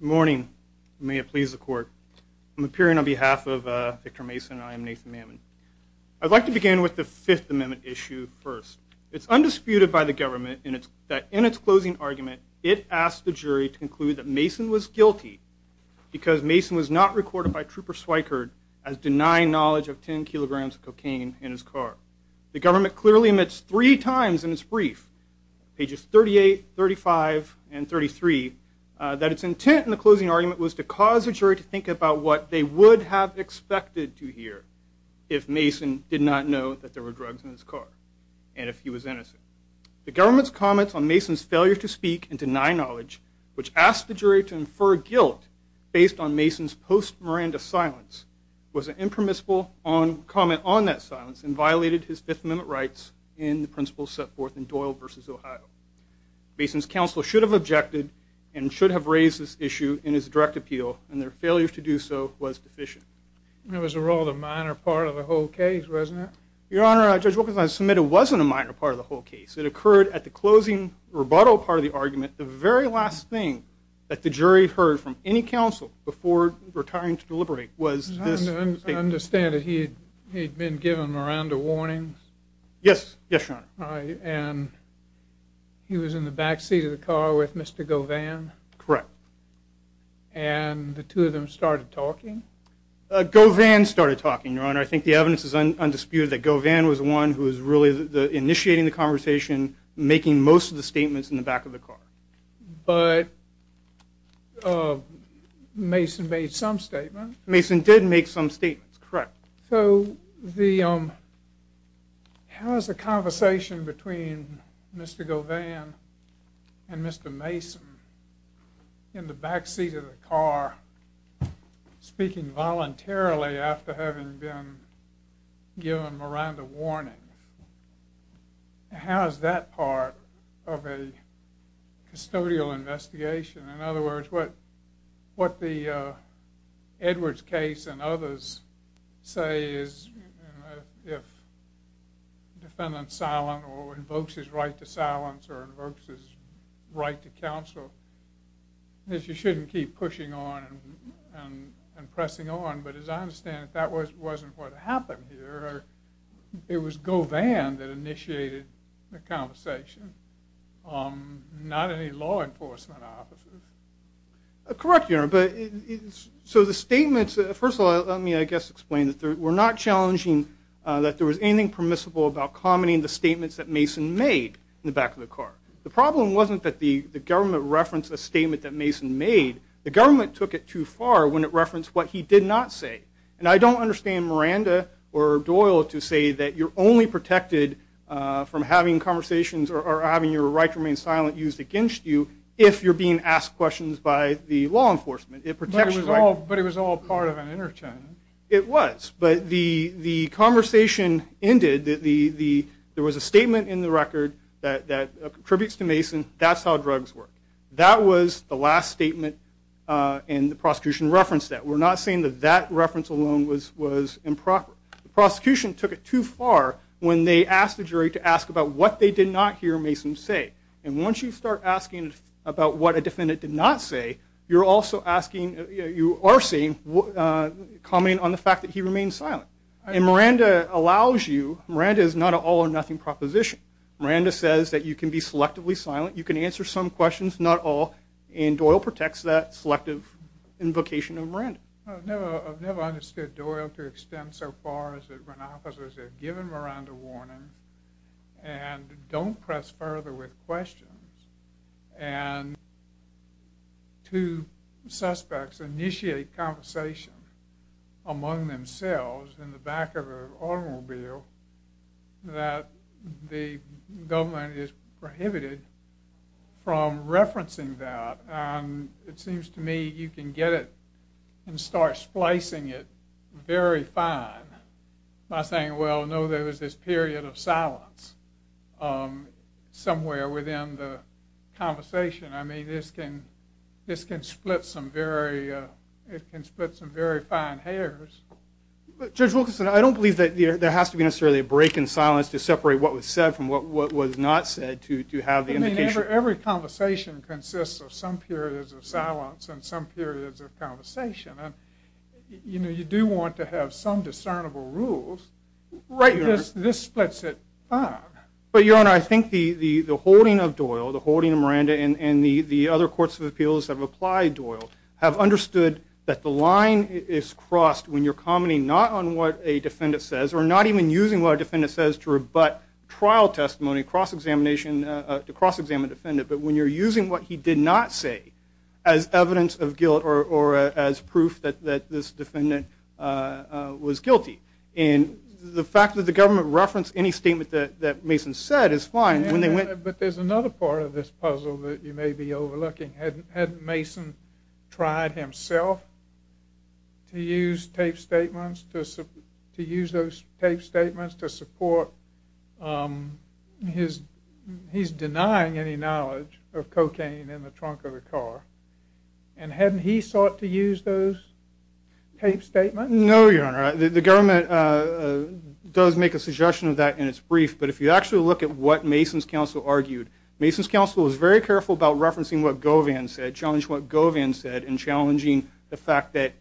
Morning. May it please the court. I'm appearing on behalf of Victor Mason and I am Nathan Mammon. I'd like to begin with the Fifth Amendment issue first. It's undisputed by the government that in its closing argument it asked the jury to conclude that Mason was guilty because Mason was not recorded by Trooper Swickard as denying knowledge of 10 kilograms of cocaine in his car. The government clearly admits three times in its brief, pages 38, 35, and 33, that its intent in the closing argument was to cause the jury to think about what they would have expected to hear if Mason did not know that there were drugs in his car and if he was innocent. The government's comments on Mason's failure to speak and deny knowledge, which asked the jury to infer guilt based on Mason's post-Miranda silence, was an impermissible comment on that silence and violated his Fifth Amendment rights in the principles set forth in Doyle v. Ohio. Mason's counsel should have objected and should have raised this issue in his direct appeal and their failure to do so was deficient. It was a rather minor part of the whole case, wasn't it? Your Honor, Judge Wilkerson, I submit it wasn't a minor part of the whole case. It occurred at the closing rebuttal part of the argument. The very last thing that the jury heard from any counsel before retiring to deliberate was this statement. I understand that he had been given Miranda warnings? Yes, Your Honor. And he was in the back seat of the car with Mr. Govan? Correct. And the two of them started talking? Govan started talking, Your Honor. I think the evidence is undisputed that Govan was the one who was really initiating the conversation, making most of the statements in the back of the car. But Mason made some statements? Mason did make some statements, correct. So how is the conversation between Mr. Govan and Mr. Mason in the back seat of the car, speaking voluntarily after having been given Miranda warnings, how is that part of a custodial investigation? In other words, what the Edwards case and others say is if the defendant is silent or invokes his right to silence or invokes his right to counsel, you shouldn't keep pushing on and pressing on. But as I understand it, that wasn't what happened here. It was Govan that initiated the conversation, not any law enforcement officers. Correct, Your Honor. So the statements, first of all, let me, I guess, explain that we're not challenging that there was anything permissible about commenting the statements that Mason made in the back of the car. The problem wasn't that the government referenced a statement that Mason made. The government took it too far when it referenced what he did not say. And I don't understand Miranda or Doyle to say that you're only protected from having conversations or having your right to remain silent used against you if you're being asked questions by the law enforcement. But it was all part of an interchange. It was. But the conversation ended, there was a statement in the record that contributes to Mason, that's how drugs work. That was the last statement, and the prosecution referenced that. We're not saying that that reference alone was improper. The prosecution took it too far when they asked the jury to ask about what they did not hear Mason say. And once you start asking about what a defendant did not say, you're also asking, you are saying, commenting on the fact that he remained silent. And Miranda allows you, Miranda is not an all or nothing proposition. Miranda says that you can be selectively silent, you can answer some questions, not all, and Doyle protects that selective invocation of Miranda. I've never understood Doyle to extend so far as that when officers are given Miranda warnings and don't press further with questions, and two suspects initiate conversation among themselves in the back of an automobile, that the government is prohibited from referencing that. And it seems to me you can get it and start splicing it very fine by saying, well, no, there was this period of silence somewhere within the conversation. I mean, this can split some very fine hairs. Judge Wilkinson, I don't believe that there has to be necessarily a break in silence to separate what was said from what was not said to have the indication. I mean, every conversation consists of some periods of silence and some periods of conversation. You know, you do want to have some discernible rules. Right, this splits it fine. But, Your Honor, I think the holding of Doyle, the holding of Miranda, and the other courts of appeals that have applied Doyle have understood that the line is crossed when you're commenting not on what a defendant says or not even using what a defendant says to rebut trial testimony, cross-examination, to cross-examine a defendant, but when you're using what he did not say as evidence of guilt or as proof that this defendant was guilty. And the fact that the government referenced any statement that Mason said is fine. But there's another part of this puzzle that you may be overlooking. Hadn't Mason tried himself to use those taped statements to support his denying any knowledge of cocaine in the trunk of the car? And hadn't he sought to use those taped statements? No, Your Honor. The government does make a suggestion of that in its brief, but if you actually look at what Mason's counsel argued, Mason's counsel was very careful about referencing what Govan said, challenging what Govan said, and challenging the fact that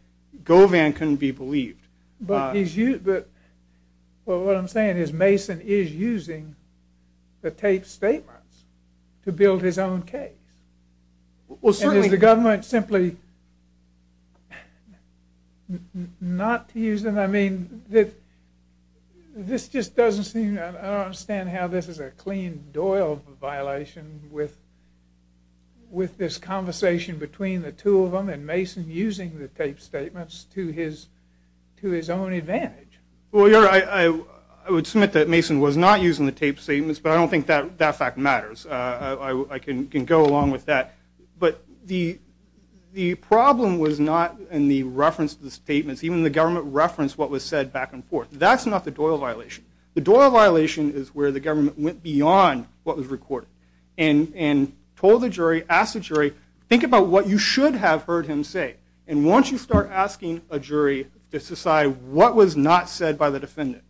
Govan couldn't be believed. But what I'm saying is Mason is using the taped statements to build his own case. Well, certainly. And is the government simply not using them? I mean, this just doesn't seem, I don't understand how this is a Cleen-Doyle violation with this conversation between the two of them and Mason using the taped statements to his own advantage. Well, Your Honor, I would submit that Mason was not using the taped statements, but I don't think that fact matters. I can go along with that. Even the government referenced what was said back and forth. That's not the Doyle violation. The Doyle violation is where the government went beyond what was recorded and told the jury, asked the jury, think about what you should have heard him say. And once you start asking a jury to decide what was not said by the defendant,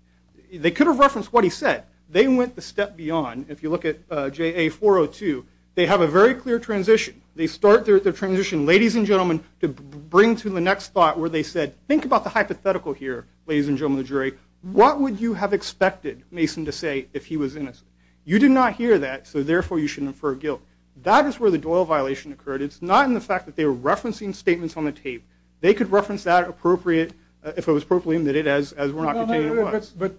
they could have referenced what he said. They went the step beyond. If you look at JA-402, they have a very clear transition. They start their transition, ladies and gentlemen, to bring to the next thought where they said, think about the hypothetical here, ladies and gentlemen of the jury. What would you have expected Mason to say if he was innocent? You did not hear that, so therefore you should infer guilt. That is where the Doyle violation occurred. It's not in the fact that they were referencing statements on the tape. They could reference that appropriate, if it was appropriately admitted as were not contained. But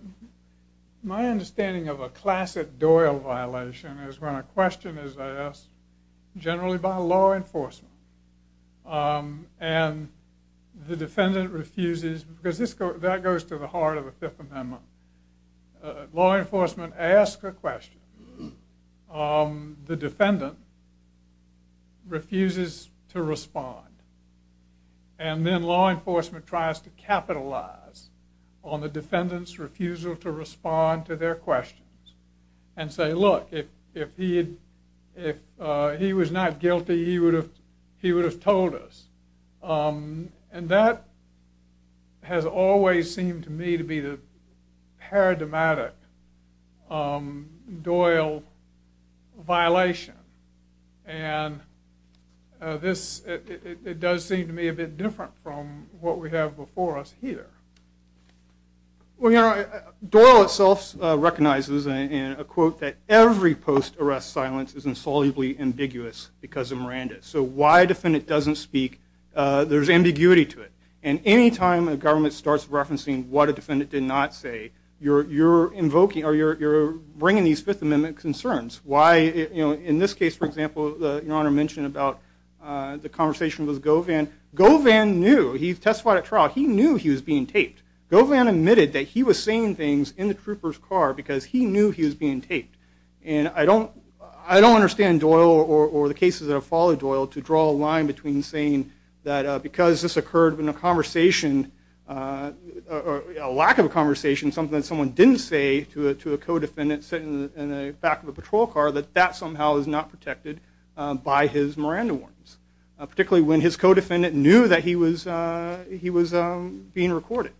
my understanding of a classic Doyle violation is when a question is asked, generally by law enforcement, and the defendant refuses, because that goes to the heart of the Fifth Amendment. Law enforcement asks a question. The defendant refuses to respond. And then law enforcement tries to capitalize on the defendant's refusal to respond to their questions and say, look, if he was not guilty, he would have told us. And that has always seemed to me to be the paradigmatic Doyle violation. And it does seem to me a bit different from what we have before us here. Well, you know, Doyle itself recognizes, in a quote, that every post-arrest silence is insolubly ambiguous because of Miranda. So why a defendant doesn't speak, there's ambiguity to it. And any time a government starts referencing what a defendant did not say, you're bringing these Fifth Amendment concerns. Why, you know, in this case, for example, Your Honor mentioned about the conversation with Govan. Govan knew, he testified at trial, he knew he was being taped. Govan admitted that he was saying things in the trooper's car because he knew he was being taped. And I don't understand Doyle, or the cases that have followed Doyle, to draw a line between saying that because this occurred in a conversation, a lack of a conversation, something that someone didn't say to a co-defendant sitting in the back of a patrol car, that that somehow is not protected by his Miranda warnings. Particularly when his co-defendant knew that he was being recorded.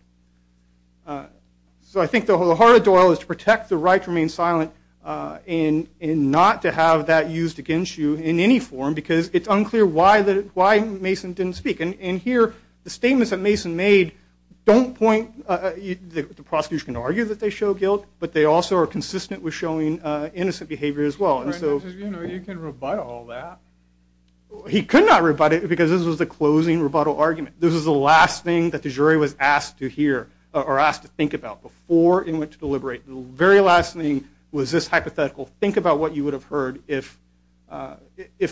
So I think the heart of Doyle is to protect the right to remain silent and not to have that used against you in any form, because it's unclear why Mason didn't speak. And here, the statements that Mason made don't point, the prosecution can argue that they show guilt, but they also are consistent with showing innocent behavior as well. You can rebut all that. He could not rebut it, because this was the closing rebuttal argument. This was the last thing that the jury was asked to hear, or asked to think about, before he went to deliberate. The very last thing was this hypothetical, think about what you would have heard if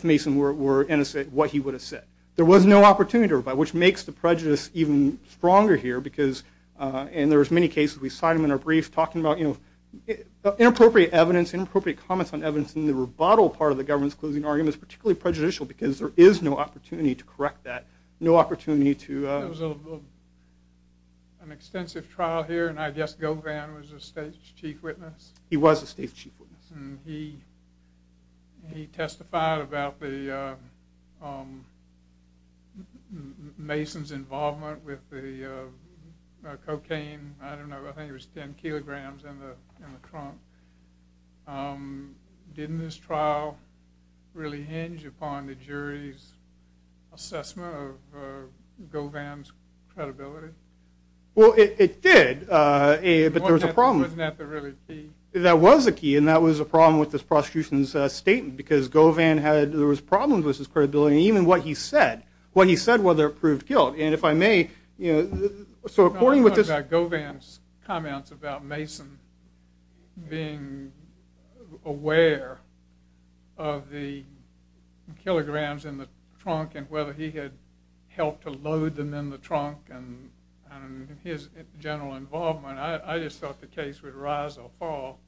Mason were innocent, what he would have said. There was no opportunity to rebut, which makes the prejudice even stronger here, because, and there's many cases, we cite them in our brief, talking about inappropriate evidence, inappropriate comments on evidence, and the rebuttal part of the government's closing argument is particularly prejudicial, because there is no opportunity to correct that, no opportunity to. There was an extensive trial here, and I guess Govan was the state's chief witness. He was the state's chief witness. And he testified about Mason's involvement with the cocaine, I don't know, I think it was 10 kilograms, in the trunk. Didn't this trial really hinge upon the jury's assessment of Govan's credibility? Well, it did, but there was a problem. Wasn't that the really key? That was the key, and that was the problem with this prosecution's statement, because Govan had, there was problems with his credibility, and even what he said, what he said, whether it proved guilt. And if I may, so according with this. Govan's comments about Mason being aware of the kilograms in the trunk, and whether he had helped to load them in the trunk, and his general involvement, I just thought the case would rise or fall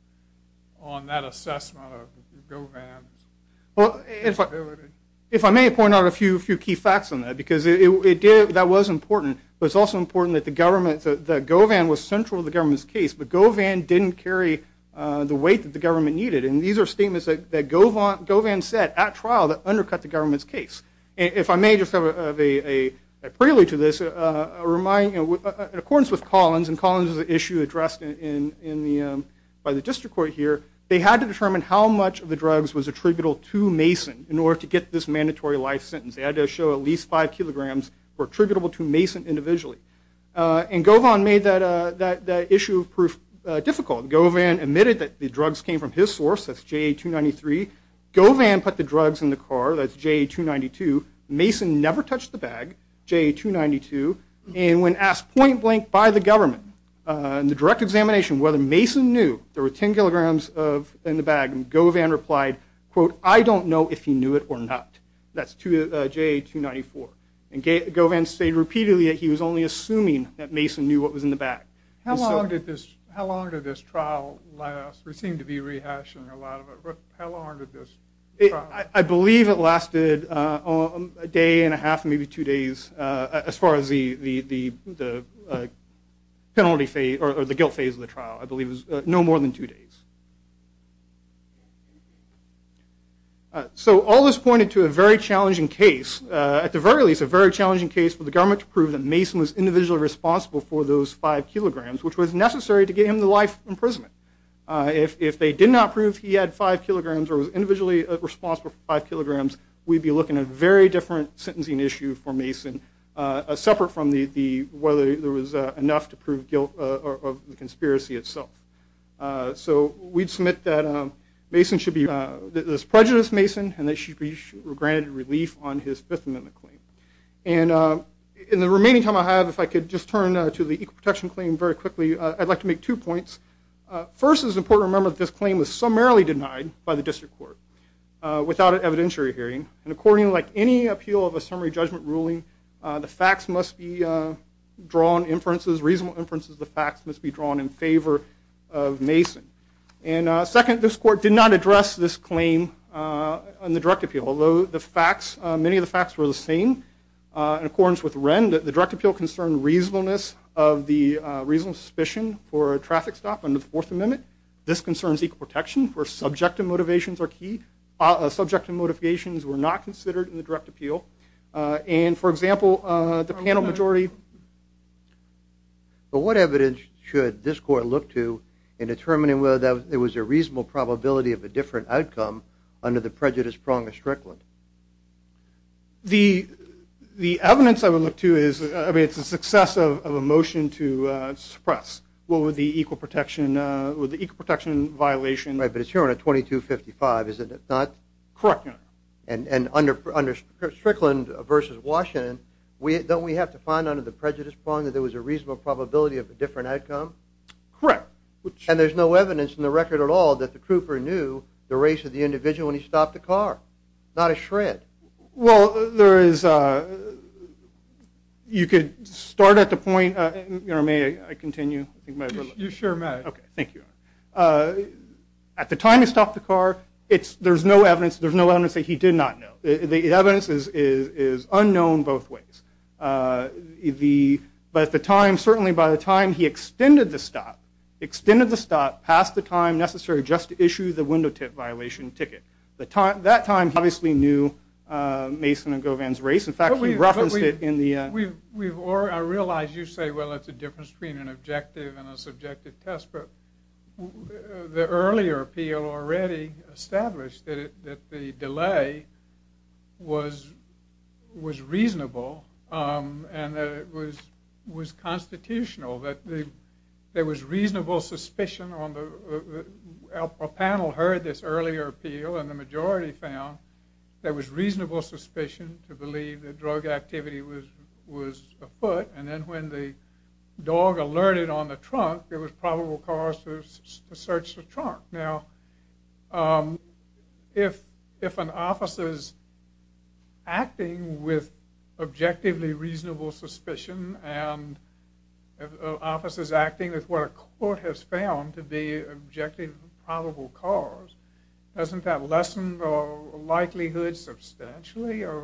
on that assessment of Govan's credibility. If I may point out a few key facts on that, because that was important, but it's also important that Govan was central to the government's case, but Govan didn't carry the weight that the government needed. And these are statements that Govan said at trial that undercut the government's case. If I may just have a prelude to this, in accordance with Collins, and Collins is an issue addressed by the district court here, they had to determine how much of the drugs was attributable to Mason in order to get this mandatory life sentence. They had to show at least five kilograms were attributable to Mason individually. And Govan made that issue of proof difficult. Govan admitted that the drugs came from his source, that's JA-293. Govan put the drugs in the car, that's JA-292. Mason never touched the bag, JA-292. And when asked point blank by the government in the direct examination whether Mason knew there were 10 kilograms in the bag, Govan replied, quote, I don't know if he knew it or not. That's JA-294. And Govan stated repeatedly that he was only assuming that Mason knew what was in the bag. How long did this trial last? We seem to be rehashing a lot of it. How long did this trial last? I believe it lasted a day and a half, maybe two days, as far as the guilt phase of the trial. I believe it was no more than two days. So all this pointed to a very challenging case, at the very least a very challenging case for the government to prove that Mason was individually responsible for those five kilograms, which was necessary to get him to life imprisonment. If they did not prove he had five kilograms or was individually responsible for five kilograms, we'd be looking at a very different sentencing issue for Mason, separate from whether there was enough to prove guilt of the conspiracy itself. So we'd submit that Mason should be this prejudiced Mason and that he should be granted relief on his Fifth Amendment claim. And in the remaining time I have, if I could just turn to the Equal Protection Claim very quickly, I'd like to make two points. First, it's important to remember that this claim was summarily denied by the district court, without an evidentiary hearing. And according, like any appeal of a summary judgment ruling, the facts must be drawn inferences, reasonable inferences of the facts must be drawn in favor of Mason. And second, this court did not address this claim in the direct appeal, although many of the facts were the same. In accordance with Wren, the direct appeal concerned reasonableness of the reasonable suspicion for a traffic stop under the Fourth Amendment. This concerns equal protection, where subjective motivations are key. Subjective motivations were not considered in the direct appeal. And, for example, the panel majority... But what evidence should this court look to in determining whether there was a reasonable probability of a different outcome under the prejudice prong of Strickland? The evidence I would look to is, I mean, it's a success of a motion to suppress. Well, with the equal protection violation... Right, but it's here on a 2255, is it not? Correct, Your Honor. And under Strickland v. Washington, don't we have to find under the prejudice prong that there was a reasonable probability of a different outcome? Correct. And there's no evidence in the record at all that the crouper knew the race of the individual when he stopped the car. Not a shred. Well, there is... You could start at the point... Your Honor, may I continue? You sure may. Okay, thank you, Your Honor. At the time he stopped the car, there's no evidence that he did not know. The evidence is unknown both ways. But at the time, certainly by the time he extended the stop, extended the stop past the time necessary just to issue the window tip violation ticket, that time he obviously knew Mason and Govan's race. In fact, he referenced it in the... I realize you say, well, it's a difference between an objective and a subjective test, but the earlier appeal already established that the delay was reasonable and that it was constitutional, that there was reasonable suspicion on the... and the majority found there was reasonable suspicion to believe that drug activity was afoot, and then when the dog alerted on the trunk, there was probable cause to search the trunk. Now, if an officer is acting with objectively reasonable suspicion and an officer is acting with what a court has found to be objective probable cause, doesn't that lessen the likelihood substantially of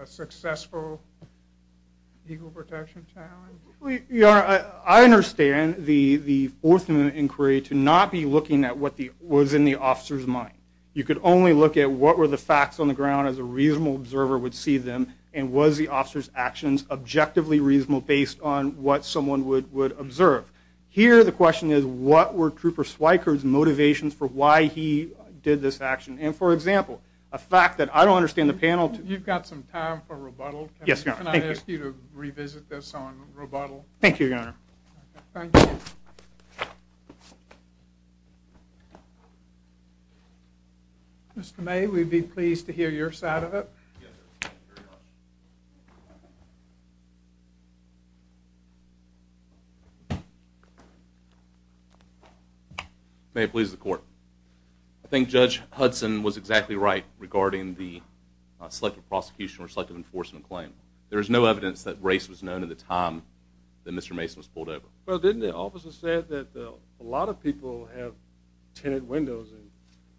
a successful legal protection challenge? Your Honor, I understand the Fourth Amendment inquiry to not be looking at what was in the officer's mind. You could only look at what were the facts on the ground as a reasonable observer would see them, and was the officer's actions objectively reasonable based on what someone would observe. Here, the question is, what were Trooper Swickard's motivations for why he did this action? And for example, a fact that I don't understand the panel... You've got some time for rebuttal. Yes, Your Honor. Can I ask you to revisit this on rebuttal? Thank you, Your Honor. Thank you. Mr. May, we'd be pleased to hear your side of it. Yes, sir. Thank you very much. May it please the Court. I think Judge Hudson was exactly right regarding the selective prosecution or selective enforcement claim. There is no evidence that race was known at the time that Mr. Mason was pulled over. Well, didn't the officer say that a lot of people have tenant windows?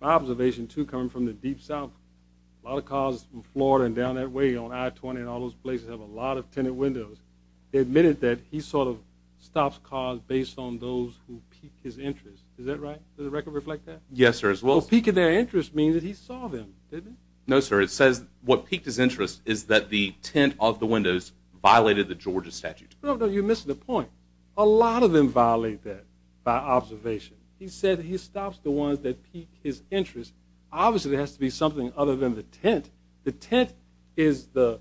My observation, too, coming from the deep south, a lot of cars in Florida and down that way on I-20 and all those places have a lot of tenant windows. He admitted that he sort of stops cars based on those who peak his interest. Is that right? Does the record reflect that? Yes, sir. Well, peaking their interest means that he saw them, didn't he? No, sir. It says what peaked his interest is that the tint of the windows violated the Georgia statute. No, no, you're missing the point. A lot of them violate that by observation. He said he stops the ones that peak his interest. Obviously, there has to be something other than the tint. The tint is the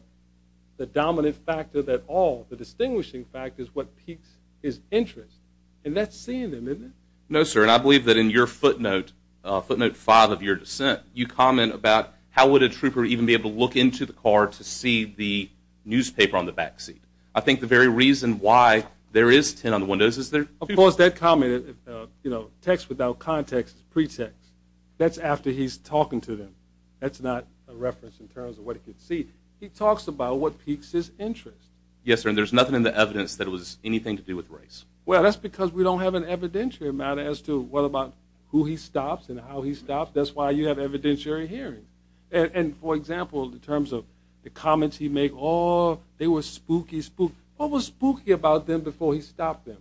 dominant factor of it all. The distinguishing factor is what peaks his interest. And that's seeing them, isn't it? No, sir. And I believe that in your footnote, footnote five of your dissent, you comment about how would a trooper even be able to look into the car to see the newspaper on the backseat. I think the very reason why there is tint on the windows is there… Of course, that comment, you know, text without context is pretext. That's after he's talking to them. That's not a reference in terms of what he can see. He talks about what peaks his interest. Yes, sir, and there's nothing in the evidence that it was anything to do with race. Well, that's because we don't have an evidentiary matter as to what about who he stops and how he stops. That's why you have evidentiary hearing. And, for example, in terms of the comments he made, oh, they were spooky, spooky. What was spooky about them before he stopped them?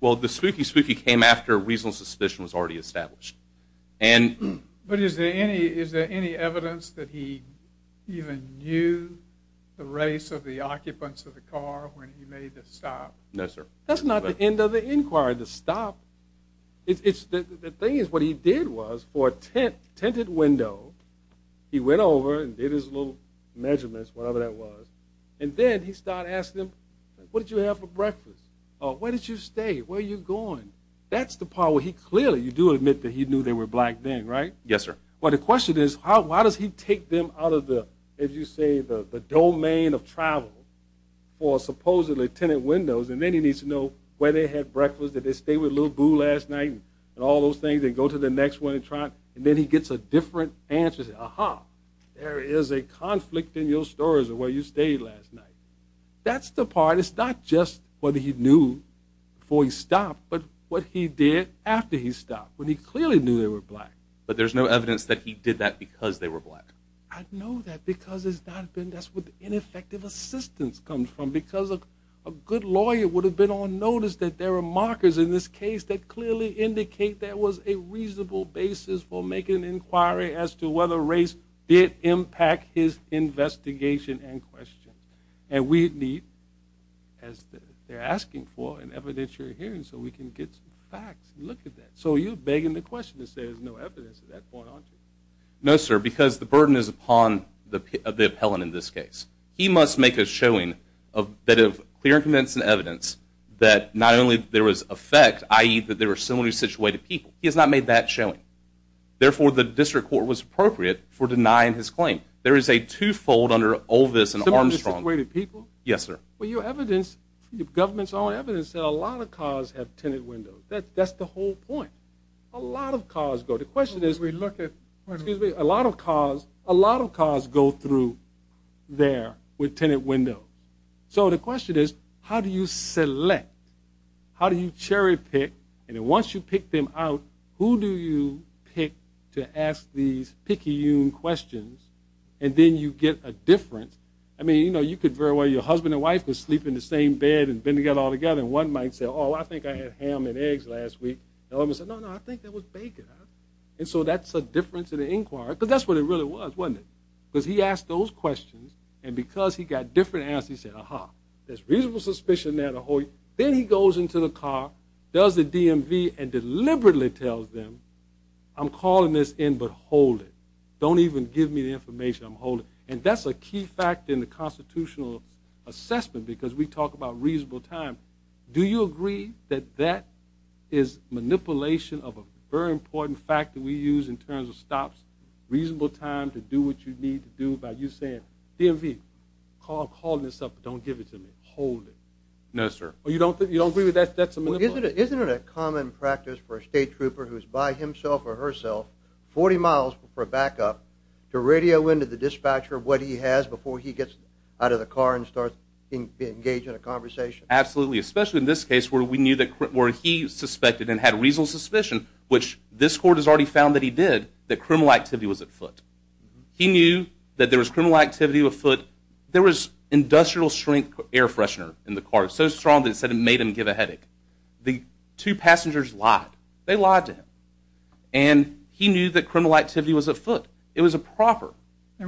Well, the spooky, spooky came after reasonable suspicion was already established. But is there any evidence that he even knew the race of the occupants of the car when he made the stop? No, sir. That's not the end of the inquiry, the stop. The thing is what he did was for a tinted window, he went over and did his little measurements, whatever that was, and then he started asking them, what did you have for breakfast? Where did you stay? Where are you going? That's the part where he clearly, you do admit that he knew they were black then, right? Yes, sir. Well, the question is why does he take them out of the, as you say, the domain of travel for supposedly tinted windows, and then he needs to know where they had breakfast, did they stay with Little Boo last night and all those things, and go to the next one and try, and then he gets a different answer. There is a conflict in your stories of where you stayed last night. That's the part. It's not just what he knew before he stopped, but what he did after he stopped, when he clearly knew they were black. But there's no evidence that he did that because they were black. I know that because it's not been, that's where the ineffective assistance comes from. Because a good lawyer would have been on notice that there are markers in this case that clearly indicate that there was a reasonable basis for making an inquiry as to whether race did impact his investigation and question. And we need, as they're asking for, an evidentiary hearing so we can get some facts and look at that. So you're begging the question to say there's no evidence at that point, aren't you? No, sir, because the burden is upon the appellant in this case. He must make a showing that of clear and convincing evidence that not only there was effect, i.e. that they were similarly situated people. He has not made that showing. Therefore, the district court was appropriate for denying his claim. There is a two-fold under all this and Armstrong. Similarly situated people? Yes, sir. Well, your evidence, the government's own evidence said a lot of cars have tenant windows. That's the whole point. A lot of cars go. The question is we look at, excuse me, a lot of cars, a lot of cars go through there with tenant windows. So the question is how do you select? How do you cherry-pick? And then once you pick them out, who do you pick to ask these picayune questions? And then you get a difference. I mean, you know, you could very well, your husband and wife could sleep in the same bed and bend together all together and one might say, oh, I think I had ham and eggs last week. The other might say, no, no, I think that was bacon. And so that's a difference in the inquiry because that's what it really was, wasn't it? Because he asked those questions and because he got different answers, he said, ah-ha, there's reasonable suspicion there. Then he goes into the car, does the DMV, and deliberately tells them, I'm calling this in but hold it. Don't even give me the information. I'm holding it. And that's a key factor in the constitutional assessment because we talk about reasonable time. Do you agree that that is manipulation of a very important fact that we use in terms of stops, reasonable time to do what you need to do by you saying, DMV, I'm calling this up but don't give it to me. Hold it. No, sir. You don't agree with that? Isn't it a common practice for a state trooper who's by himself or herself 40 miles for backup to radio into the dispatcher what he has before he gets out of the car and starts engaging in a conversation? Absolutely, especially in this case where we knew that he suspected and had reasonable suspicion, which this court has already found that he did, that criminal activity was at foot. He knew that there was criminal activity at foot. There was industrial strength air freshener in the car so strong that it made him give a headache. The two passengers lied. They lied to him. And he knew that criminal activity was at foot. It was improper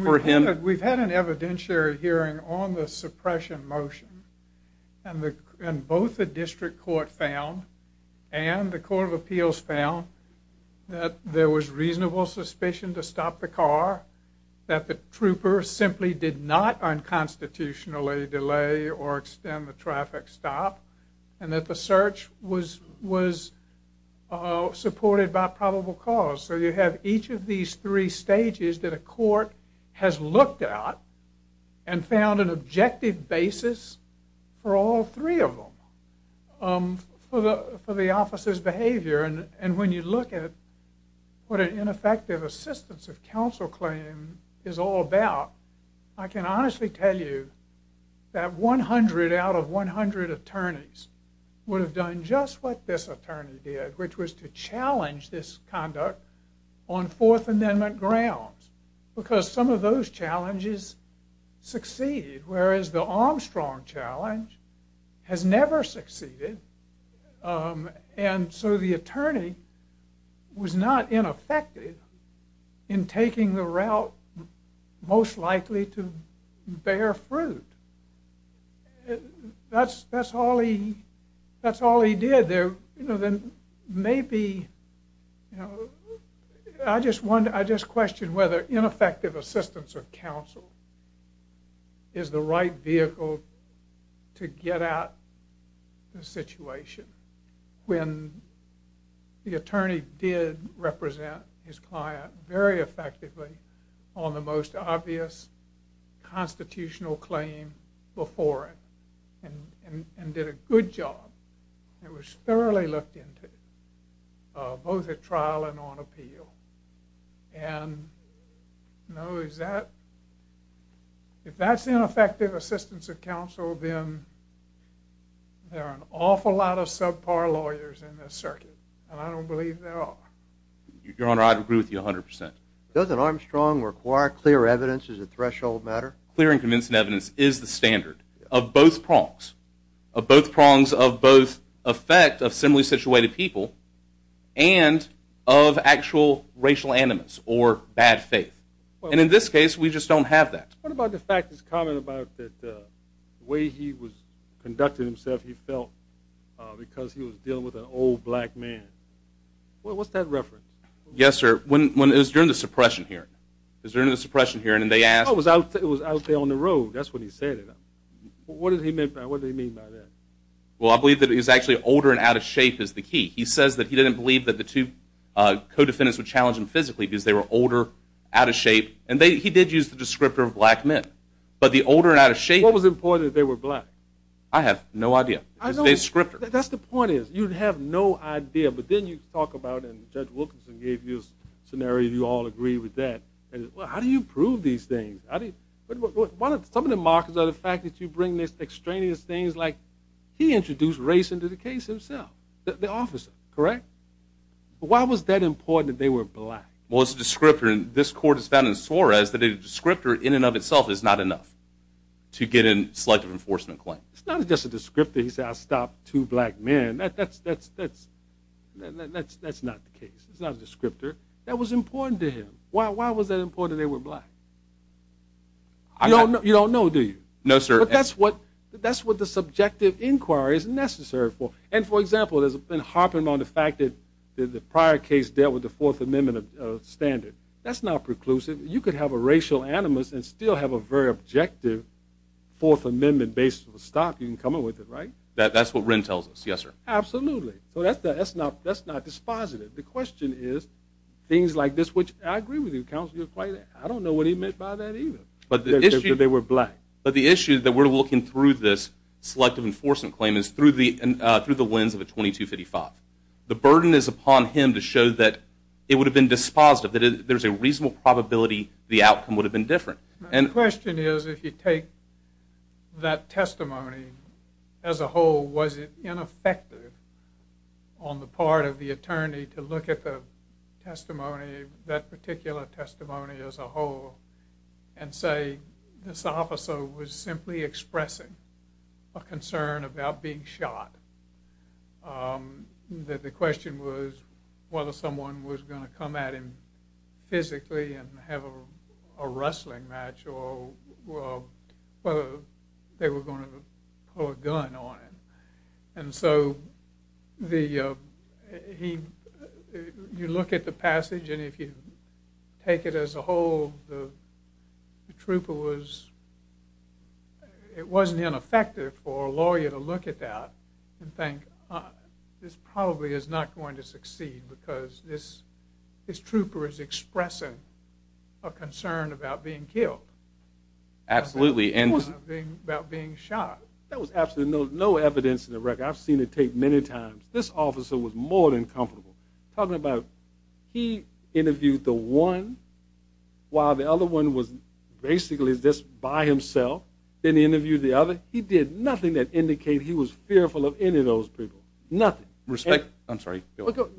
for him. We've had an evidentiary hearing on the suppression motion, and both the district court found and the court of appeals found that there was reasonable suspicion to stop the car, that the trooper simply did not unconstitutionally delay or extend the traffic stop, and that the search was supported by probable cause. So you have each of these three stages that a court has looked at and found an objective basis for all three of them for the officer's behavior. And when you look at what an ineffective assistance of counsel claim is all about, I can honestly tell you that 100 out of 100 attorneys would have done just what this attorney did, which was to challenge this conduct on Fourth Amendment grounds, because some of those challenges succeeded, whereas the Armstrong challenge has never succeeded. And so the attorney was not ineffective in taking the route most likely to bear fruit. That's all he did. Maybe, you know, I just question whether ineffective assistance of counsel is the right vehicle to get at the situation when the attorney did represent his client very effectively on the most obvious constitutional claim before it and did a good job. It was thoroughly looked into, both at trial and on appeal. And, you know, if that's ineffective assistance of counsel, then there are an awful lot of subpar lawyers in this circuit, and I don't believe there are. Your Honor, I'd agree with you 100%. Doesn't Armstrong require clear evidence as a threshold matter? Clear and convincing evidence is the standard of both prongs, of both prongs of both effect of similarly situated people and of actual racial animus or bad faith. And in this case, we just don't have that. What about the fact that's common about the way he was conducting himself he felt because he was dealing with an old black man? What's that reference? Yes, sir. It was during the suppression hearing. It was during the suppression hearing, and they asked him. It was out there on the road. That's what he said. What did he mean by that? Well, I believe that he's actually older and out of shape is the key. He says that he didn't believe that the two co-defendants were challenging physically because they were older, out of shape, and he did use the descriptor of black men. But the older and out of shape. What was the point that they were black? I have no idea. It's a descriptor. That's the point is you have no idea, but then you talk about it, and Judge Wilkinson gave you a scenario, and you all agree with that. How do you prove these things? Some of the markers are the fact that you bring these extraneous things like he introduced race into the case himself, the officer, correct? Why was that important that they were black? Well, it's a descriptor, and this court has found in Suarez that a descriptor in and of itself is not enough to get a selective enforcement claim. It's not just a descriptor. He said, I stopped two black men. That's not the case. It's not a descriptor. That was important to him. Why was that important that they were black? You don't know, do you? No, sir. But that's what the subjective inquiry is necessary for. And, for example, there's been harping on the fact that the prior case dealt with the Fourth Amendment standard. That's not preclusive. You could have a racial animus and still have a very objective Fourth Amendment basis of a stop. You can come up with it, right? That's what Wren tells us, yes, sir. Absolutely. So that's not dispositive. The question is things like this, which I agree with you. Counsel, you're quite right. I don't know what he meant by that either. They were black. But the issue that we're looking through this selective enforcement claim is through the lens of a 2255. The burden is upon him to show that it would have been dispositive, that there's a reasonable probability the outcome would have been different. My question is if you take that testimony as a whole, was it ineffective on the part of the attorney to look at the testimony, that particular testimony as a whole, and say this officer was simply expressing a concern about being shot, that the question was whether someone was going to come at him physically and have a wrestling match or whether they were going to pull a gun on him. And so you look at the passage, and if you take it as a whole, the trooper was – it wasn't ineffective for a lawyer to look at that and think this probably is not going to succeed because this trooper is expressing a concern about being killed. Absolutely. About being shot. There was absolutely no evidence in the record. I've seen the tape many times. This officer was more than comfortable talking about he interviewed the one while the other one was basically just by himself, didn't interview the other. He did nothing that indicated he was fearful of any of those people. Nothing. Respect – I'm sorry.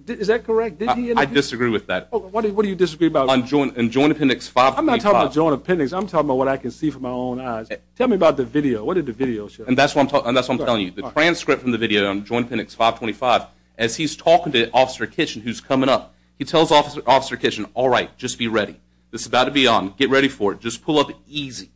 Is that correct? I disagree with that. What do you disagree about? And Joint Appendix 525. I'm not talking about Joint Appendix. I'm talking about what I can see from my own eyes. Tell me about the video. What did the video show? And that's what I'm telling you. The transcript from the video on Joint Appendix 525, as he's talking to Officer Kitchen, who's coming up, he tells Officer Kitchen, all right, just be ready. This is about to be on. Get ready for it. Just pull up easy.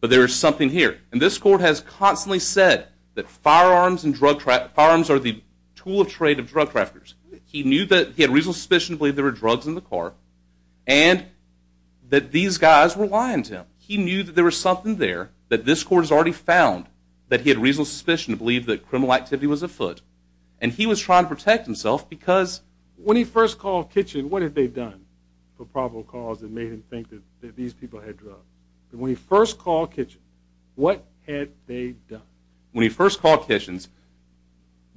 But there is something here. And this court has constantly said that firearms and drug – firearms are the tool of trade of drug traffickers. He knew that – he had reasonable suspicion to believe there were drugs in the car and that these guys were lying to him. He knew that there was something there that this court has already found, that he had reasonable suspicion to believe that criminal activity was afoot, and he was trying to protect himself because – When he first called Kitchen, what had they done for probable cause that made him think that these people had drugs? When he first called Kitchen, what had they done? When he first called Kitchen,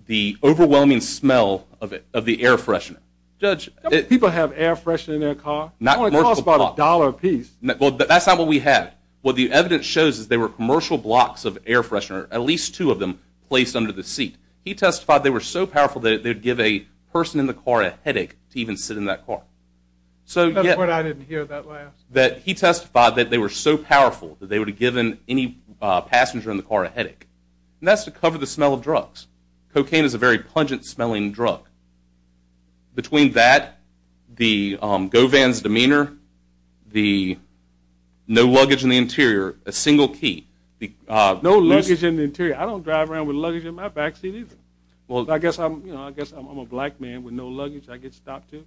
the overwhelming smell of the air freshener. Judge, people have air freshener in their car? It only costs about a dollar apiece. That's not what we had. What the evidence shows is there were commercial blocks of air freshener, at least two of them, placed under the seat. He testified they were so powerful that they would give a person in the car a headache to even sit in that car. That's what I didn't hear that last. That he testified that they were so powerful that they would have given any passenger in the car a headache. And that's to cover the smell of drugs. Cocaine is a very pungent-smelling drug. Between that, the go-vans demeanor, the no luggage in the interior, a single key. No luggage in the interior. I don't drive around with luggage in my backseat either. Well, I guess I'm a black man with no luggage. I get stopped too.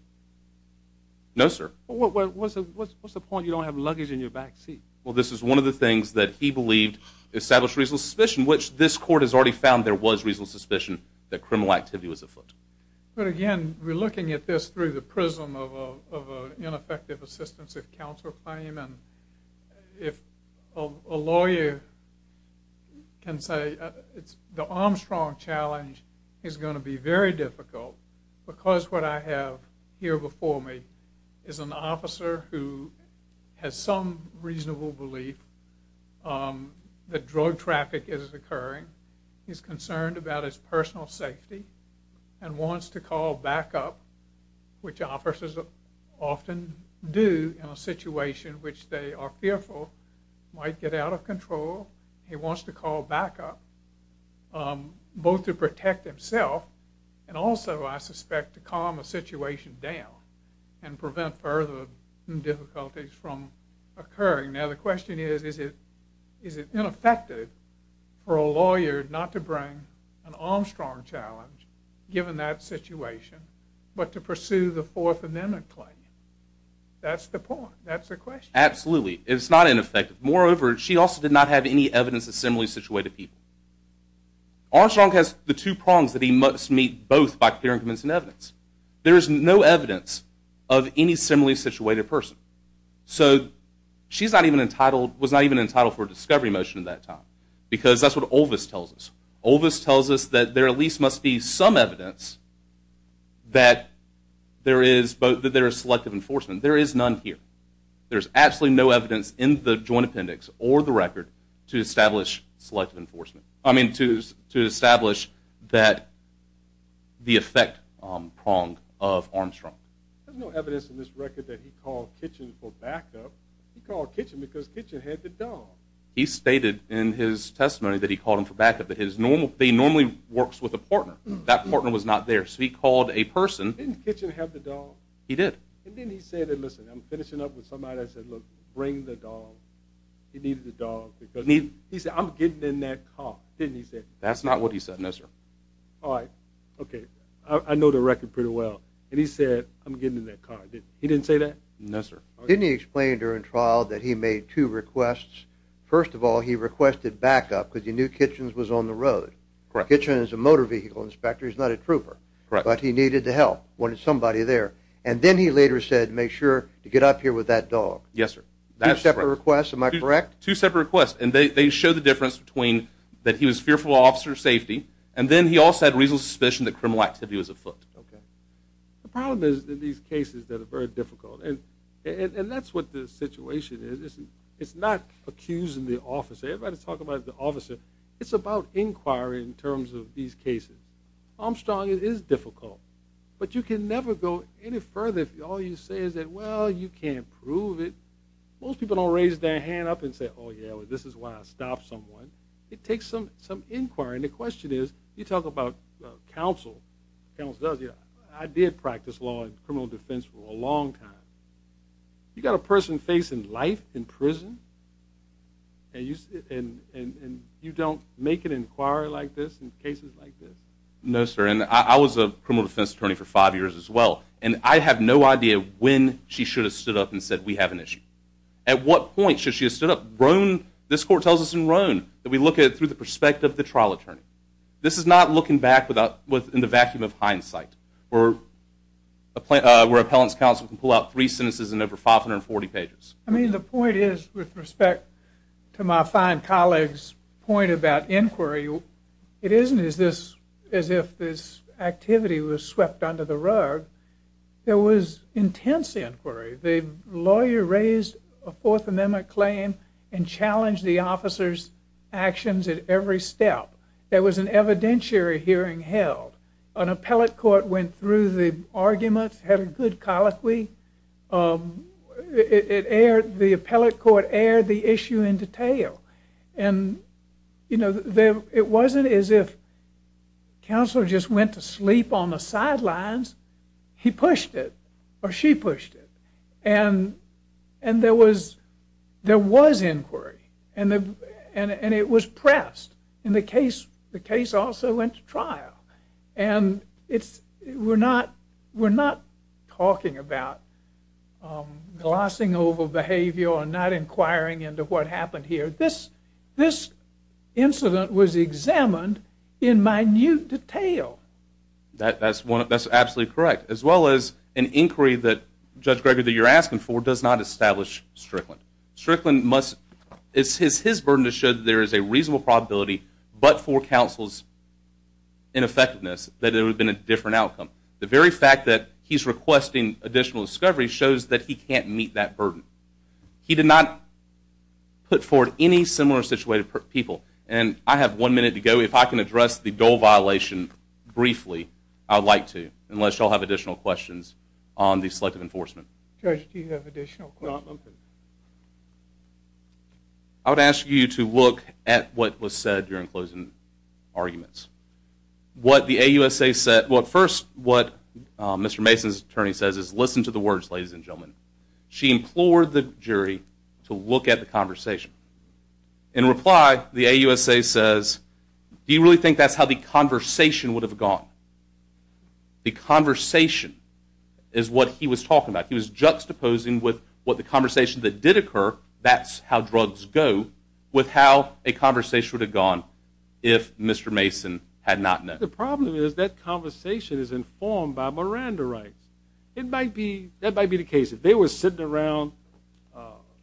No, sir. What's the point? You don't have luggage in your backseat. Well, this is one of the things that he believed established reasonable suspicion, which this court has already found there was reasonable suspicion that criminal activity was afoot. But, again, we're looking at this through the prism of an ineffective assistance of counsel claim. And if a lawyer can say the Armstrong challenge is going to be very difficult because what I have here before me is an officer who has some reasonable belief that drug traffic is occurring. He's concerned about his personal safety and wants to call backup, which officers often do in a situation in which they are fearful, might get out of control. He wants to call backup both to protect himself and also, I suspect, to calm a situation down and prevent further difficulties from occurring. Now, the question is, is it ineffective for a lawyer not to bring an Armstrong challenge, given that situation, but to pursue the Fourth Amendment claim? That's the point. That's the question. Absolutely. It's not ineffective. Moreover, she also did not have any evidence that similarly situated people. Armstrong has the two prongs that he must meet both by clear and convincing evidence. There is no evidence of any similarly situated person. So she was not even entitled for a discovery motion at that time because that's what Olvis tells us. Olvis tells us that there at least must be some evidence that there is selective enforcement. There is none here. There is absolutely no evidence in the Joint Appendix or the record to establish selective enforcement, I mean to establish the effect prong of Armstrong. There's no evidence in this record that he called Kitchen for backup. He called Kitchen because Kitchen had the dog. He stated in his testimony that he called him for backup, but he normally works with a partner. That partner was not there. So he called a person. Didn't Kitchen have the dog? He did. And didn't he say that, listen, I'm finishing up with somebody. I said, look, bring the dog. He needed the dog. He said, I'm getting in that car. Didn't he say that? That's not what he said, no, sir. All right. Okay. I know the record pretty well. And he said, I'm getting in that car. He didn't say that? No, sir. Didn't he explain during trial that he made two requests? First of all, he requested backup because he knew Kitchen was on the road. Kitchen is a motor vehicle inspector. He's not a trooper. But he needed the help, wanted somebody there. And then he later said, make sure to get up here with that dog. Yes, sir. Two separate requests, am I correct? Two separate requests. And they show the difference between that he was fearful of officer safety, and then he also had reasonable suspicion that criminal activity was afoot. Okay. The problem is that these cases are very difficult. And that's what the situation is. It's not accusing the officer. Everybody's talking about the officer. It's about inquiry in terms of these cases. Armstrong, it is difficult. But you can never go any further if all you say is that, well, you can't prove it. Most people don't raise their hand up and say, oh, yeah, this is why I stopped someone. It takes some inquiry. And the question is, you talk about counsel. I did practice law and criminal defense for a long time. You got a person facing life in prison, and you don't make an inquiry like this in cases like this? No, sir. And I was a criminal defense attorney for five years as well. And I have no idea when she should have stood up and said, we have an issue. At what point should she have stood up? This court tells us in Roan that we look at it through the perspective of the trial attorney. This is not looking back in the vacuum of hindsight, where an appellant's counsel can pull out three sentences in over 540 pages. I mean, the point is, with respect to my fine colleague's point about inquiry, it isn't as if this activity was swept under the rug. There was intense inquiry. The lawyer raised a Fourth Amendment claim and challenged the officer's actions at every step. There was an evidentiary hearing held. An appellate court went through the arguments, had a good colloquy. The appellate court aired the issue in detail. And it wasn't as if counsel just went to sleep on the sidelines. He pushed it, or she pushed it. And there was inquiry. And it was pressed. And the case also went to trial. And we're not talking about glossing over behavior or not inquiring into what happened here. This incident was examined in minute detail. That's absolutely correct, as well as an inquiry that, Judge Gregory, that you're asking for does not establish Strickland. Strickland must, it's his burden to show that there is a reasonable probability, but for counsel's ineffectiveness, that there would have been a different outcome. The very fact that he's requesting additional discovery shows that he can't meet that burden. He did not put forward any similar situated people. And I have one minute to go. If I can address the Dole violation briefly, I would like to, unless y'all have additional questions on the selective enforcement. Judge, do you have additional questions? I would ask you to look at what was said during closing arguments. First, what Mr. Mason's attorney says is, listen to the words, ladies and gentlemen. She implored the jury to look at the conversation. In reply, the AUSA says, do you really think that's how the conversation would have gone? The conversation is what he was talking about. He was juxtaposing with what the conversation that did occur, that's how drugs go, with how a conversation would have gone if Mr. Mason had not met. The problem is that conversation is informed by Miranda rights. That might be the case. If they were sitting around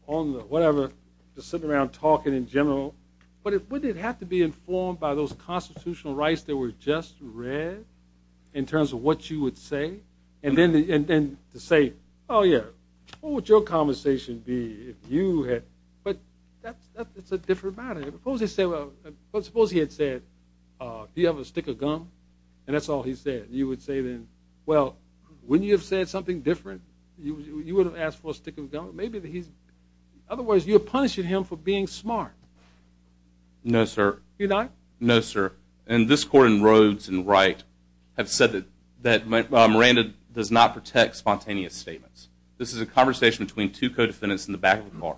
talking in general, wouldn't it have to be informed by those constitutional rights that were just read in terms of what you would say? And then to say, oh, yeah, what would your conversation be if you had? But that's a different matter. Suppose he had said, do you have a stick of gum? And that's all he said. You would say then, well, wouldn't you have said something different? You would have asked for a stick of gum. Otherwise, you're punishing him for being smart. No, sir. You're not? No, sir. And this court in Rhodes and Wright have said that Miranda does not protect spontaneous statements. This is a conversation between two co-defendants in the back of the car.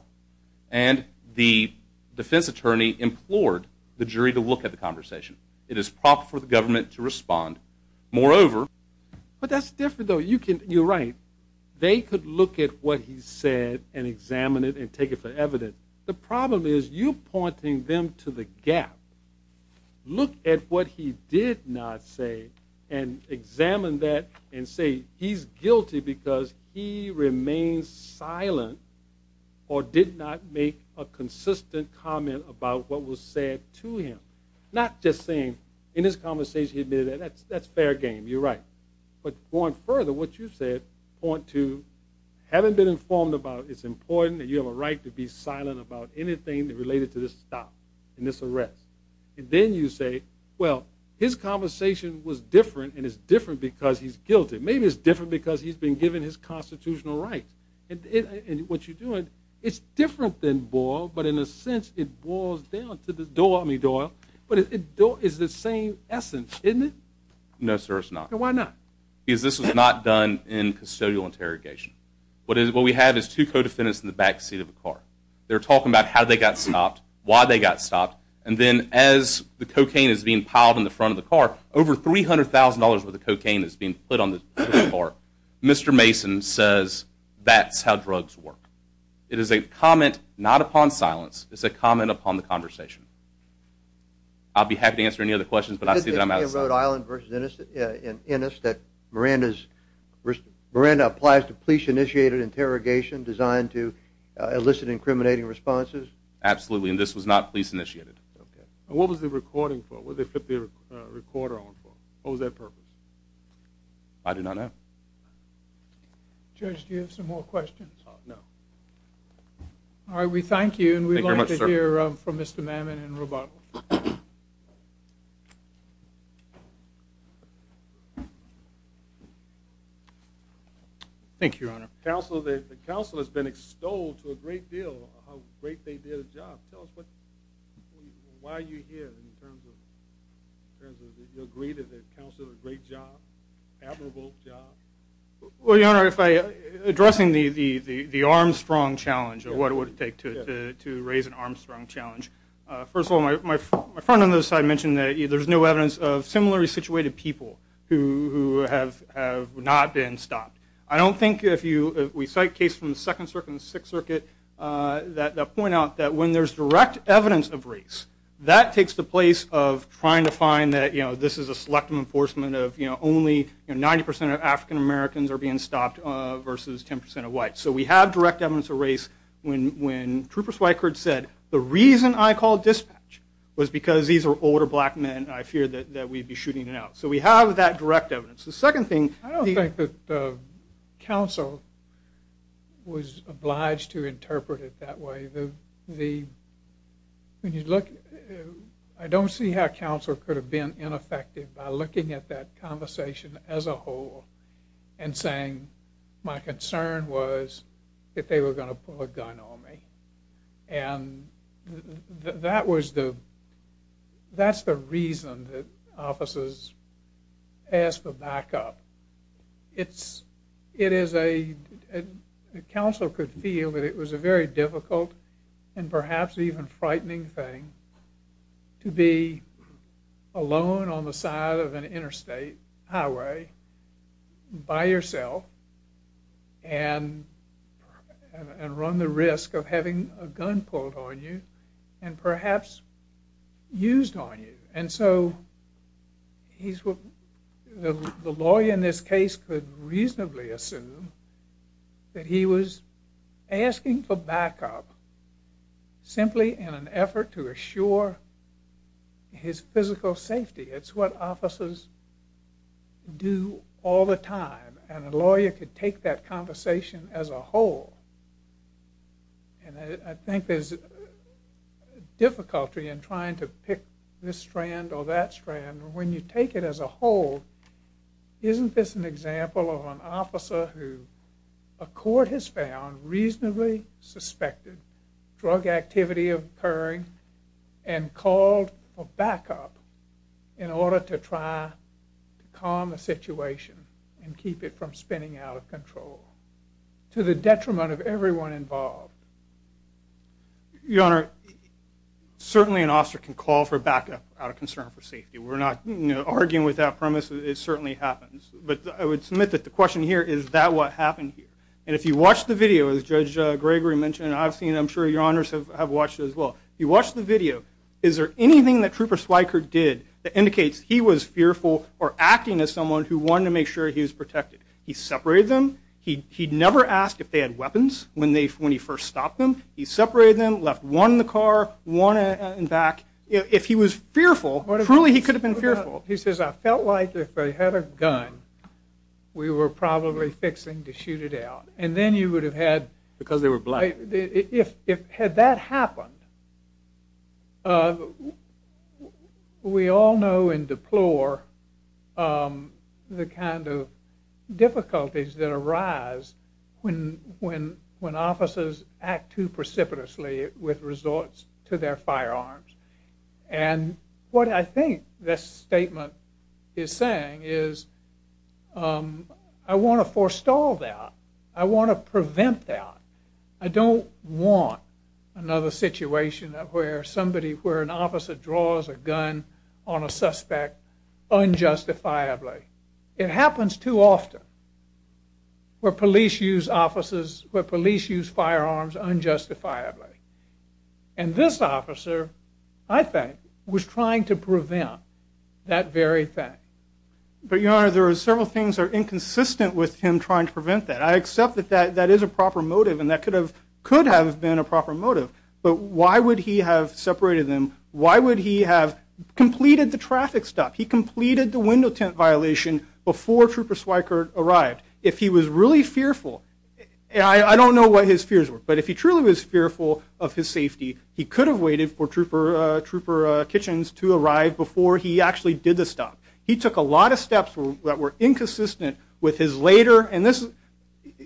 And the defense attorney implored the jury to look at the conversation. It is proper for the government to respond. Moreover, but that's different, though. You're right. They could look at what he said and examine it and take it for evidence. The problem is you pointing them to the gap. Look at what he did not say and examine that and say he's guilty because he remained silent or did not make a consistent comment about what was said to him. Not just saying in this conversation he admitted that. That's fair game. You're right. But going further, what you said point to having been informed about it's important that you have a right to be silent about anything related to this stop and this arrest. And then you say, well, his conversation was different and it's different because he's guilty. Maybe it's different because he's been given his constitutional rights. And what you're doing, it's different than Boyle, but in a sense it boils down to Doyle. But it's the same essence, isn't it? No, sir, it's not. Why not? Because this was not done in custodial interrogation. What we have is two co-defendants in the back seat of the car. They're talking about how they got stopped, why they got stopped, and then as the cocaine is being piled on the front of the car, over $300,000 worth of cocaine is being put on the front of the car. Mr. Mason says that's how drugs work. It is a comment not upon silence. It's a comment upon the conversation. I'll be happy to answer any other questions, but I see that I'm out of time. Is it the case in Rhode Island versus Ennis that Miranda applies to police initiated interrogation designed to elicit incriminating responses? Absolutely, and this was not police initiated. Okay. And what was the recording for? What did they put the recorder on for? What was their purpose? I do not know. Judge, do you have some more questions? No. All right, we thank you. Thank you very much, sir. And we'd like to hear from Mr. Mammon and Roboto. Thank you, Your Honor. Counsel, the counsel has been extolled to a great deal how great they did a job. Tell us why you're here in terms of you agree that the counsel did a great job, admirable job. Well, Your Honor, addressing the Armstrong challenge, what it would take to raise an Armstrong challenge, first of all, my friend on the other side mentioned that there's no evidence of similarly situated people who have not been stopped. I don't think if we cite cases from the Second Circuit and the Sixth Circuit that point out that when there's direct evidence of race, that takes the place of trying to find that, you know, this is a selective enforcement of, you know, only 90% of African-Americans are being stopped versus 10% of whites. So we have direct evidence of race. When Troopers Wykerd said, the reason I called dispatch was because these are older black men and I feared that we'd be shooting it out. So we have that direct evidence. The second thing. I don't think that counsel was obliged to interpret it that way. When you look, I don't see how counsel could have been ineffective by looking at that conversation as a whole and saying my concern was that they were going to pull a gun on me. And that was the, that's the reason that offices asked to back up. It's, it is a, counsel could feel that it was a very difficult and perhaps even frightening thing to be alone on the side of an interstate highway by yourself and run the risk of having a gun pulled on you and perhaps used on you. And so he's, the lawyer in this case could reasonably assume that he was asking for backup simply in an effort to assure his physical safety. It's what officers do all the time. And a lawyer could take that conversation as a whole. And I think there's difficulty in trying to pick this strand or that strand. When you take it as a whole, isn't this an example of an officer who a court has found reasonably suspected drug activity occurring and called for backup in order to try to and keep it from spinning out of control to the detriment of everyone involved? Your Honor, certainly an officer can call for backup out of concern for safety. We're not arguing with that premise. It certainly happens, but I would submit that the question here is that what happened here? And if you watch the video, as Judge Gregory mentioned, I've seen, I'm sure your honors have watched it as well. You watch the video. Is there anything that Trooper Swiker did that indicates he was fearful or concerned who wanted to make sure he was protected? He separated them. He never asked if they had weapons when he first stopped them. He separated them, left one in the car, one in the back. If he was fearful, truly he could have been fearful. He says, I felt like if they had a gun, we were probably fixing to shoot it out. And then you would have had. Because they were black. Had that happened, we all know and deplore the kind of difficulties that arise when officers act too precipitously with resorts to their firearms. And what I think this statement is saying is, I want to forestall that. I want to prevent that. I don't want another situation where somebody, where an officer draws a gun on a suspect unjustifiably. It happens too often where police use officers, where police use firearms unjustifiably. And this officer, I think, was trying to prevent that very thing. But your honor, there are several things that are inconsistent with him trying to prevent that. I accept that that is a proper motive, and that could have been a proper motive. But why would he have separated them? Why would he have completed the traffic stop? He completed the window tint violation before Trooper Swickert arrived. If he was really fearful, I don't know what his fears were, but if he truly was fearful of his safety, he could have waited for Trooper Kitchens to arrive before he actually did the stop. He took a lot of steps that were inconsistent with his later, and this,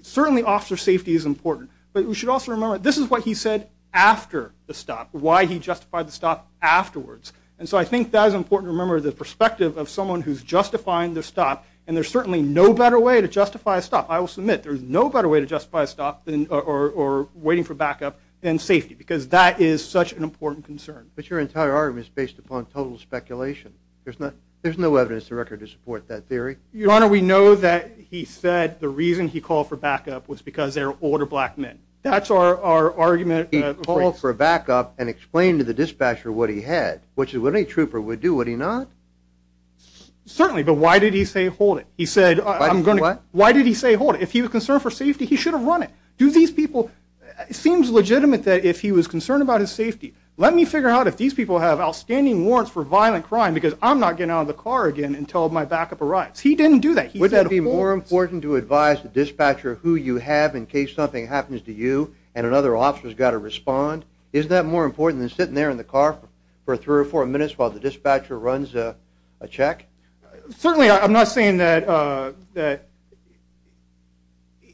certainly officer safety is important. But we should also remember, this is what he said after the stop, why he justified the stop afterwards. And so I think that is important to remember, the perspective of someone who's justifying the stop, and there's certainly no better way to justify a stop. I will submit there's no better way to justify a stop or waiting for backup than safety, because that is such an important concern. But your entire argument is based upon total speculation. There's no evidence to record to support that theory. Your Honor, we know that he said the reason he called for backup was because they were older black men. That's our argument. He called for backup and explained to the dispatcher what he had, which is what any trooper would do, would he not? Certainly. But why did he say, hold it? He said, I'm going to, why did he say, hold it? If he was concerned for safety, he should have run it. Do these people, it seems legitimate that if he was concerned about his safety, let me figure out if these people have outstanding warrants for violent backup arrives. He didn't do that. Would that be more important to advise the dispatcher who you have in case something happens to you and another officer has got to respond? Isn't that more important than sitting there in the car for three or four minutes while the dispatcher runs a check? Certainly. I'm not saying that, uh, that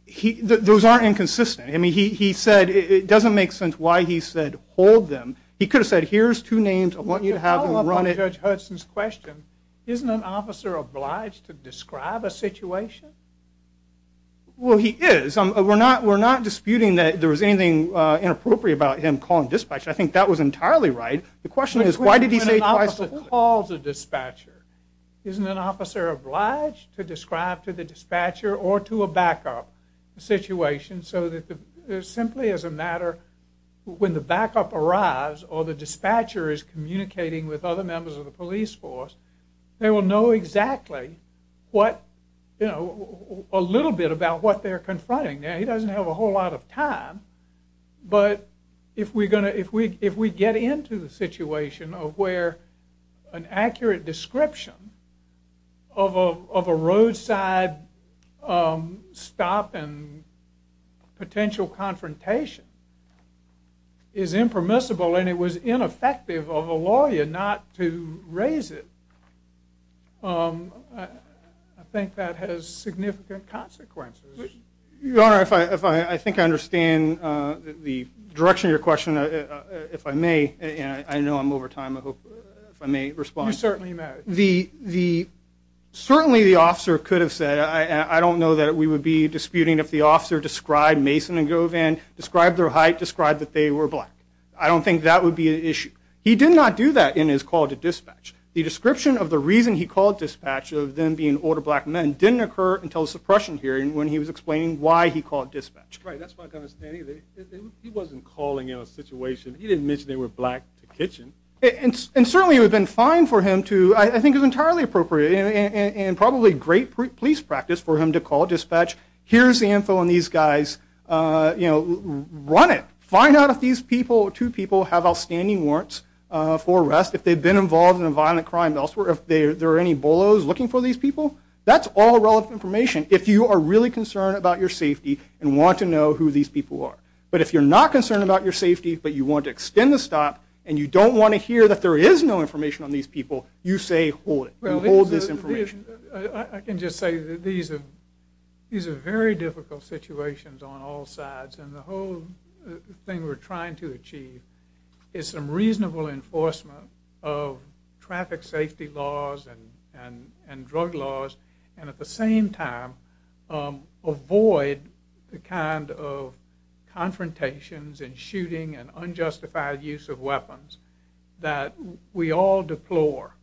he, those aren't inconsistent. I mean, he, he said, it doesn't make sense why he said, hold them. He could have said, here's two names. I want you to have run it. Judge Hudson's question. Isn't an officer obliged to describe a situation? Well, he is. We're not, we're not disputing that there was anything inappropriate about him calling dispatch. I think that was entirely right. The question is, why did he say twice to call the dispatcher? Isn't an officer obliged to describe to the dispatcher or to a backup situation so that the simply as a matter when the backup arrives or the dispatcher arrives, they will know exactly what, you know, a little bit about what they're confronting. Now he doesn't have a whole lot of time, but if we're going to, if we, if we get into the situation of where an accurate description of a, of a roadside, um, stop and potential confrontation is impermissible and it was ineffective of a lawyer not to raise it. Um, I think that has significant consequences. Your Honor, if I, if I think I understand the direction of your question, if I may, I know I'm over time. I hope if I may respond, certainly the, the, certainly the officer could have said, I don't know that we would be disputing if the officer described Mason and Govan described their height described that they were black. I don't think that would be an issue. He did not do that in his call to dispatch. The description of the reason he called dispatch of them being older black men didn't occur until the suppression hearing when he was explaining why he called dispatch, right? That's my understanding that he wasn't calling in a situation. He didn't mention they were black kitchen. And certainly it would have been fine for him to, I think it was entirely appropriate and probably great police practice for him to call dispatch. Here's the info on these guys, uh, you know, run it, find out if these people, two people have outstanding warrants, uh, for arrest. If they've been involved in a violent crime elsewhere, if they are, there are any bolos looking for these people, that's all relevant information. If you are really concerned about your safety and want to know who these people are, but if you're not concerned about your safety, but you want to extend the stop and you don't want to hear that there is no information on these people, you say, hold it, hold this information. I can just say that these are, these are very difficult situations on all sides. And the whole thing we're trying to achieve is some reasonable enforcement of traffic safety laws and, and, and drug laws. And at the same time, um, avoid the kind of confrontations and shooting and unjustified use of weapons that we all deplore.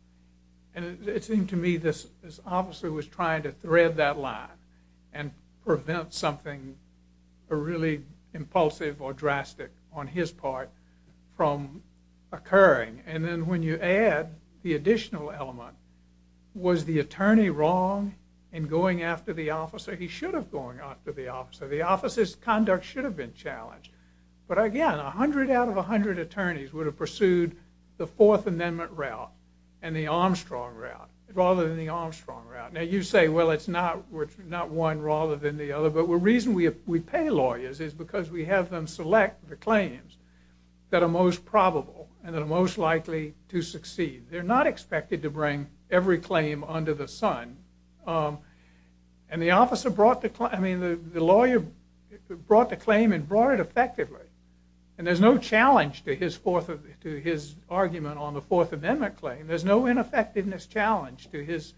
And it seemed to me this, this officer was trying to thread that line and prevent something really impulsive or drastic on his part from occurring. And then when you add the additional element, was the attorney wrong in going after the officer? He should have gone after the officer. The officer's conduct should have been challenged. But again, a hundred out of a hundred attorneys would have pursued the Fourth Amendment route and the Armstrong route rather than the Armstrong route. Now you say, well, it's not, we're not one rather than the other. But the reason we pay lawyers is because we have them select the claims that are most probable and that are most likely to succeed. They're not expected to bring every claim under the sun. Um, and the officer brought the, I mean, the lawyer brought the claim and brought it effectively. And there's no challenge to his fourth, to his argument on the Fourth Amendment claim. There's no ineffectiveness challenge to his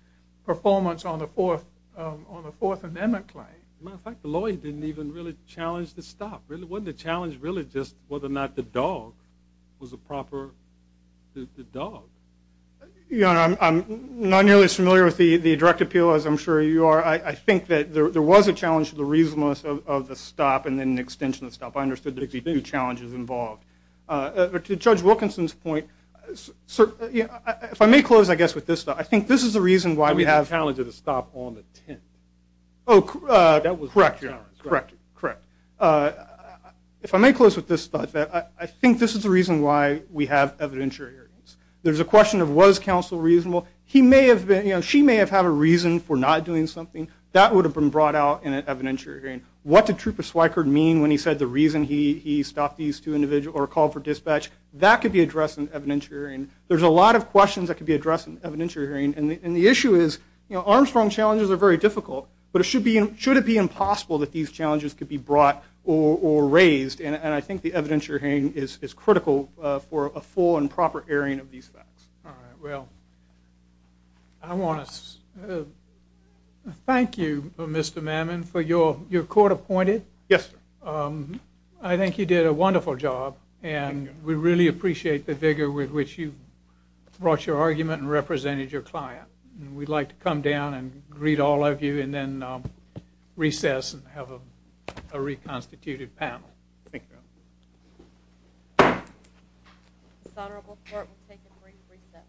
performance on the Fourth, um, on the Fourth Amendment claim. As a matter of fact, the lawyer didn't even really challenge the stop. It wasn't a challenge really just whether or not the dog was a proper, the dog. You know, I'm not nearly as familiar with the direct appeal as I'm sure you are. I think that there was a challenge to the reasonableness of the stop and then the extension of the stop. I understood there'd be two challenges involved. Uh, to Judge Wilkinson's point, sir, if I may close, I guess with this, I think this is the reason why we have the challenge of the stop on the 10th. Oh, correct. Correct. Correct. Uh, if I may close with this, I think this is the reason why we have evidentiary hearings. There's a question of was counsel reasonable. He may have been, you know, she may have had a reason for not doing something that would have been brought out in an evidentiary hearing. What did Trooper Swickard mean when he said the reason he, he stopped these two individuals or called for dispatch that could be addressed in evidentiary hearing. There's a lot of questions that could be addressed in evidentiary hearing. And the, and the issue is, you know, Armstrong challenges are very difficult, but it should be, should it be impossible that these challenges could be brought or raised? And, and I think the evidentiary hearing is critical for a full and proper airing of these facts. All right. Well, I want to, uh, thank you, uh, Mr. Mammon for your, your court appointed. Yes, um, I think you did a wonderful job and we really appreciate the vigor with which you brought your argument and represented your client. And we'd like to come down and greet all of you and then, um, recess and have a, a reconstituted panel. Thank you. This honorable court will take a brief recess.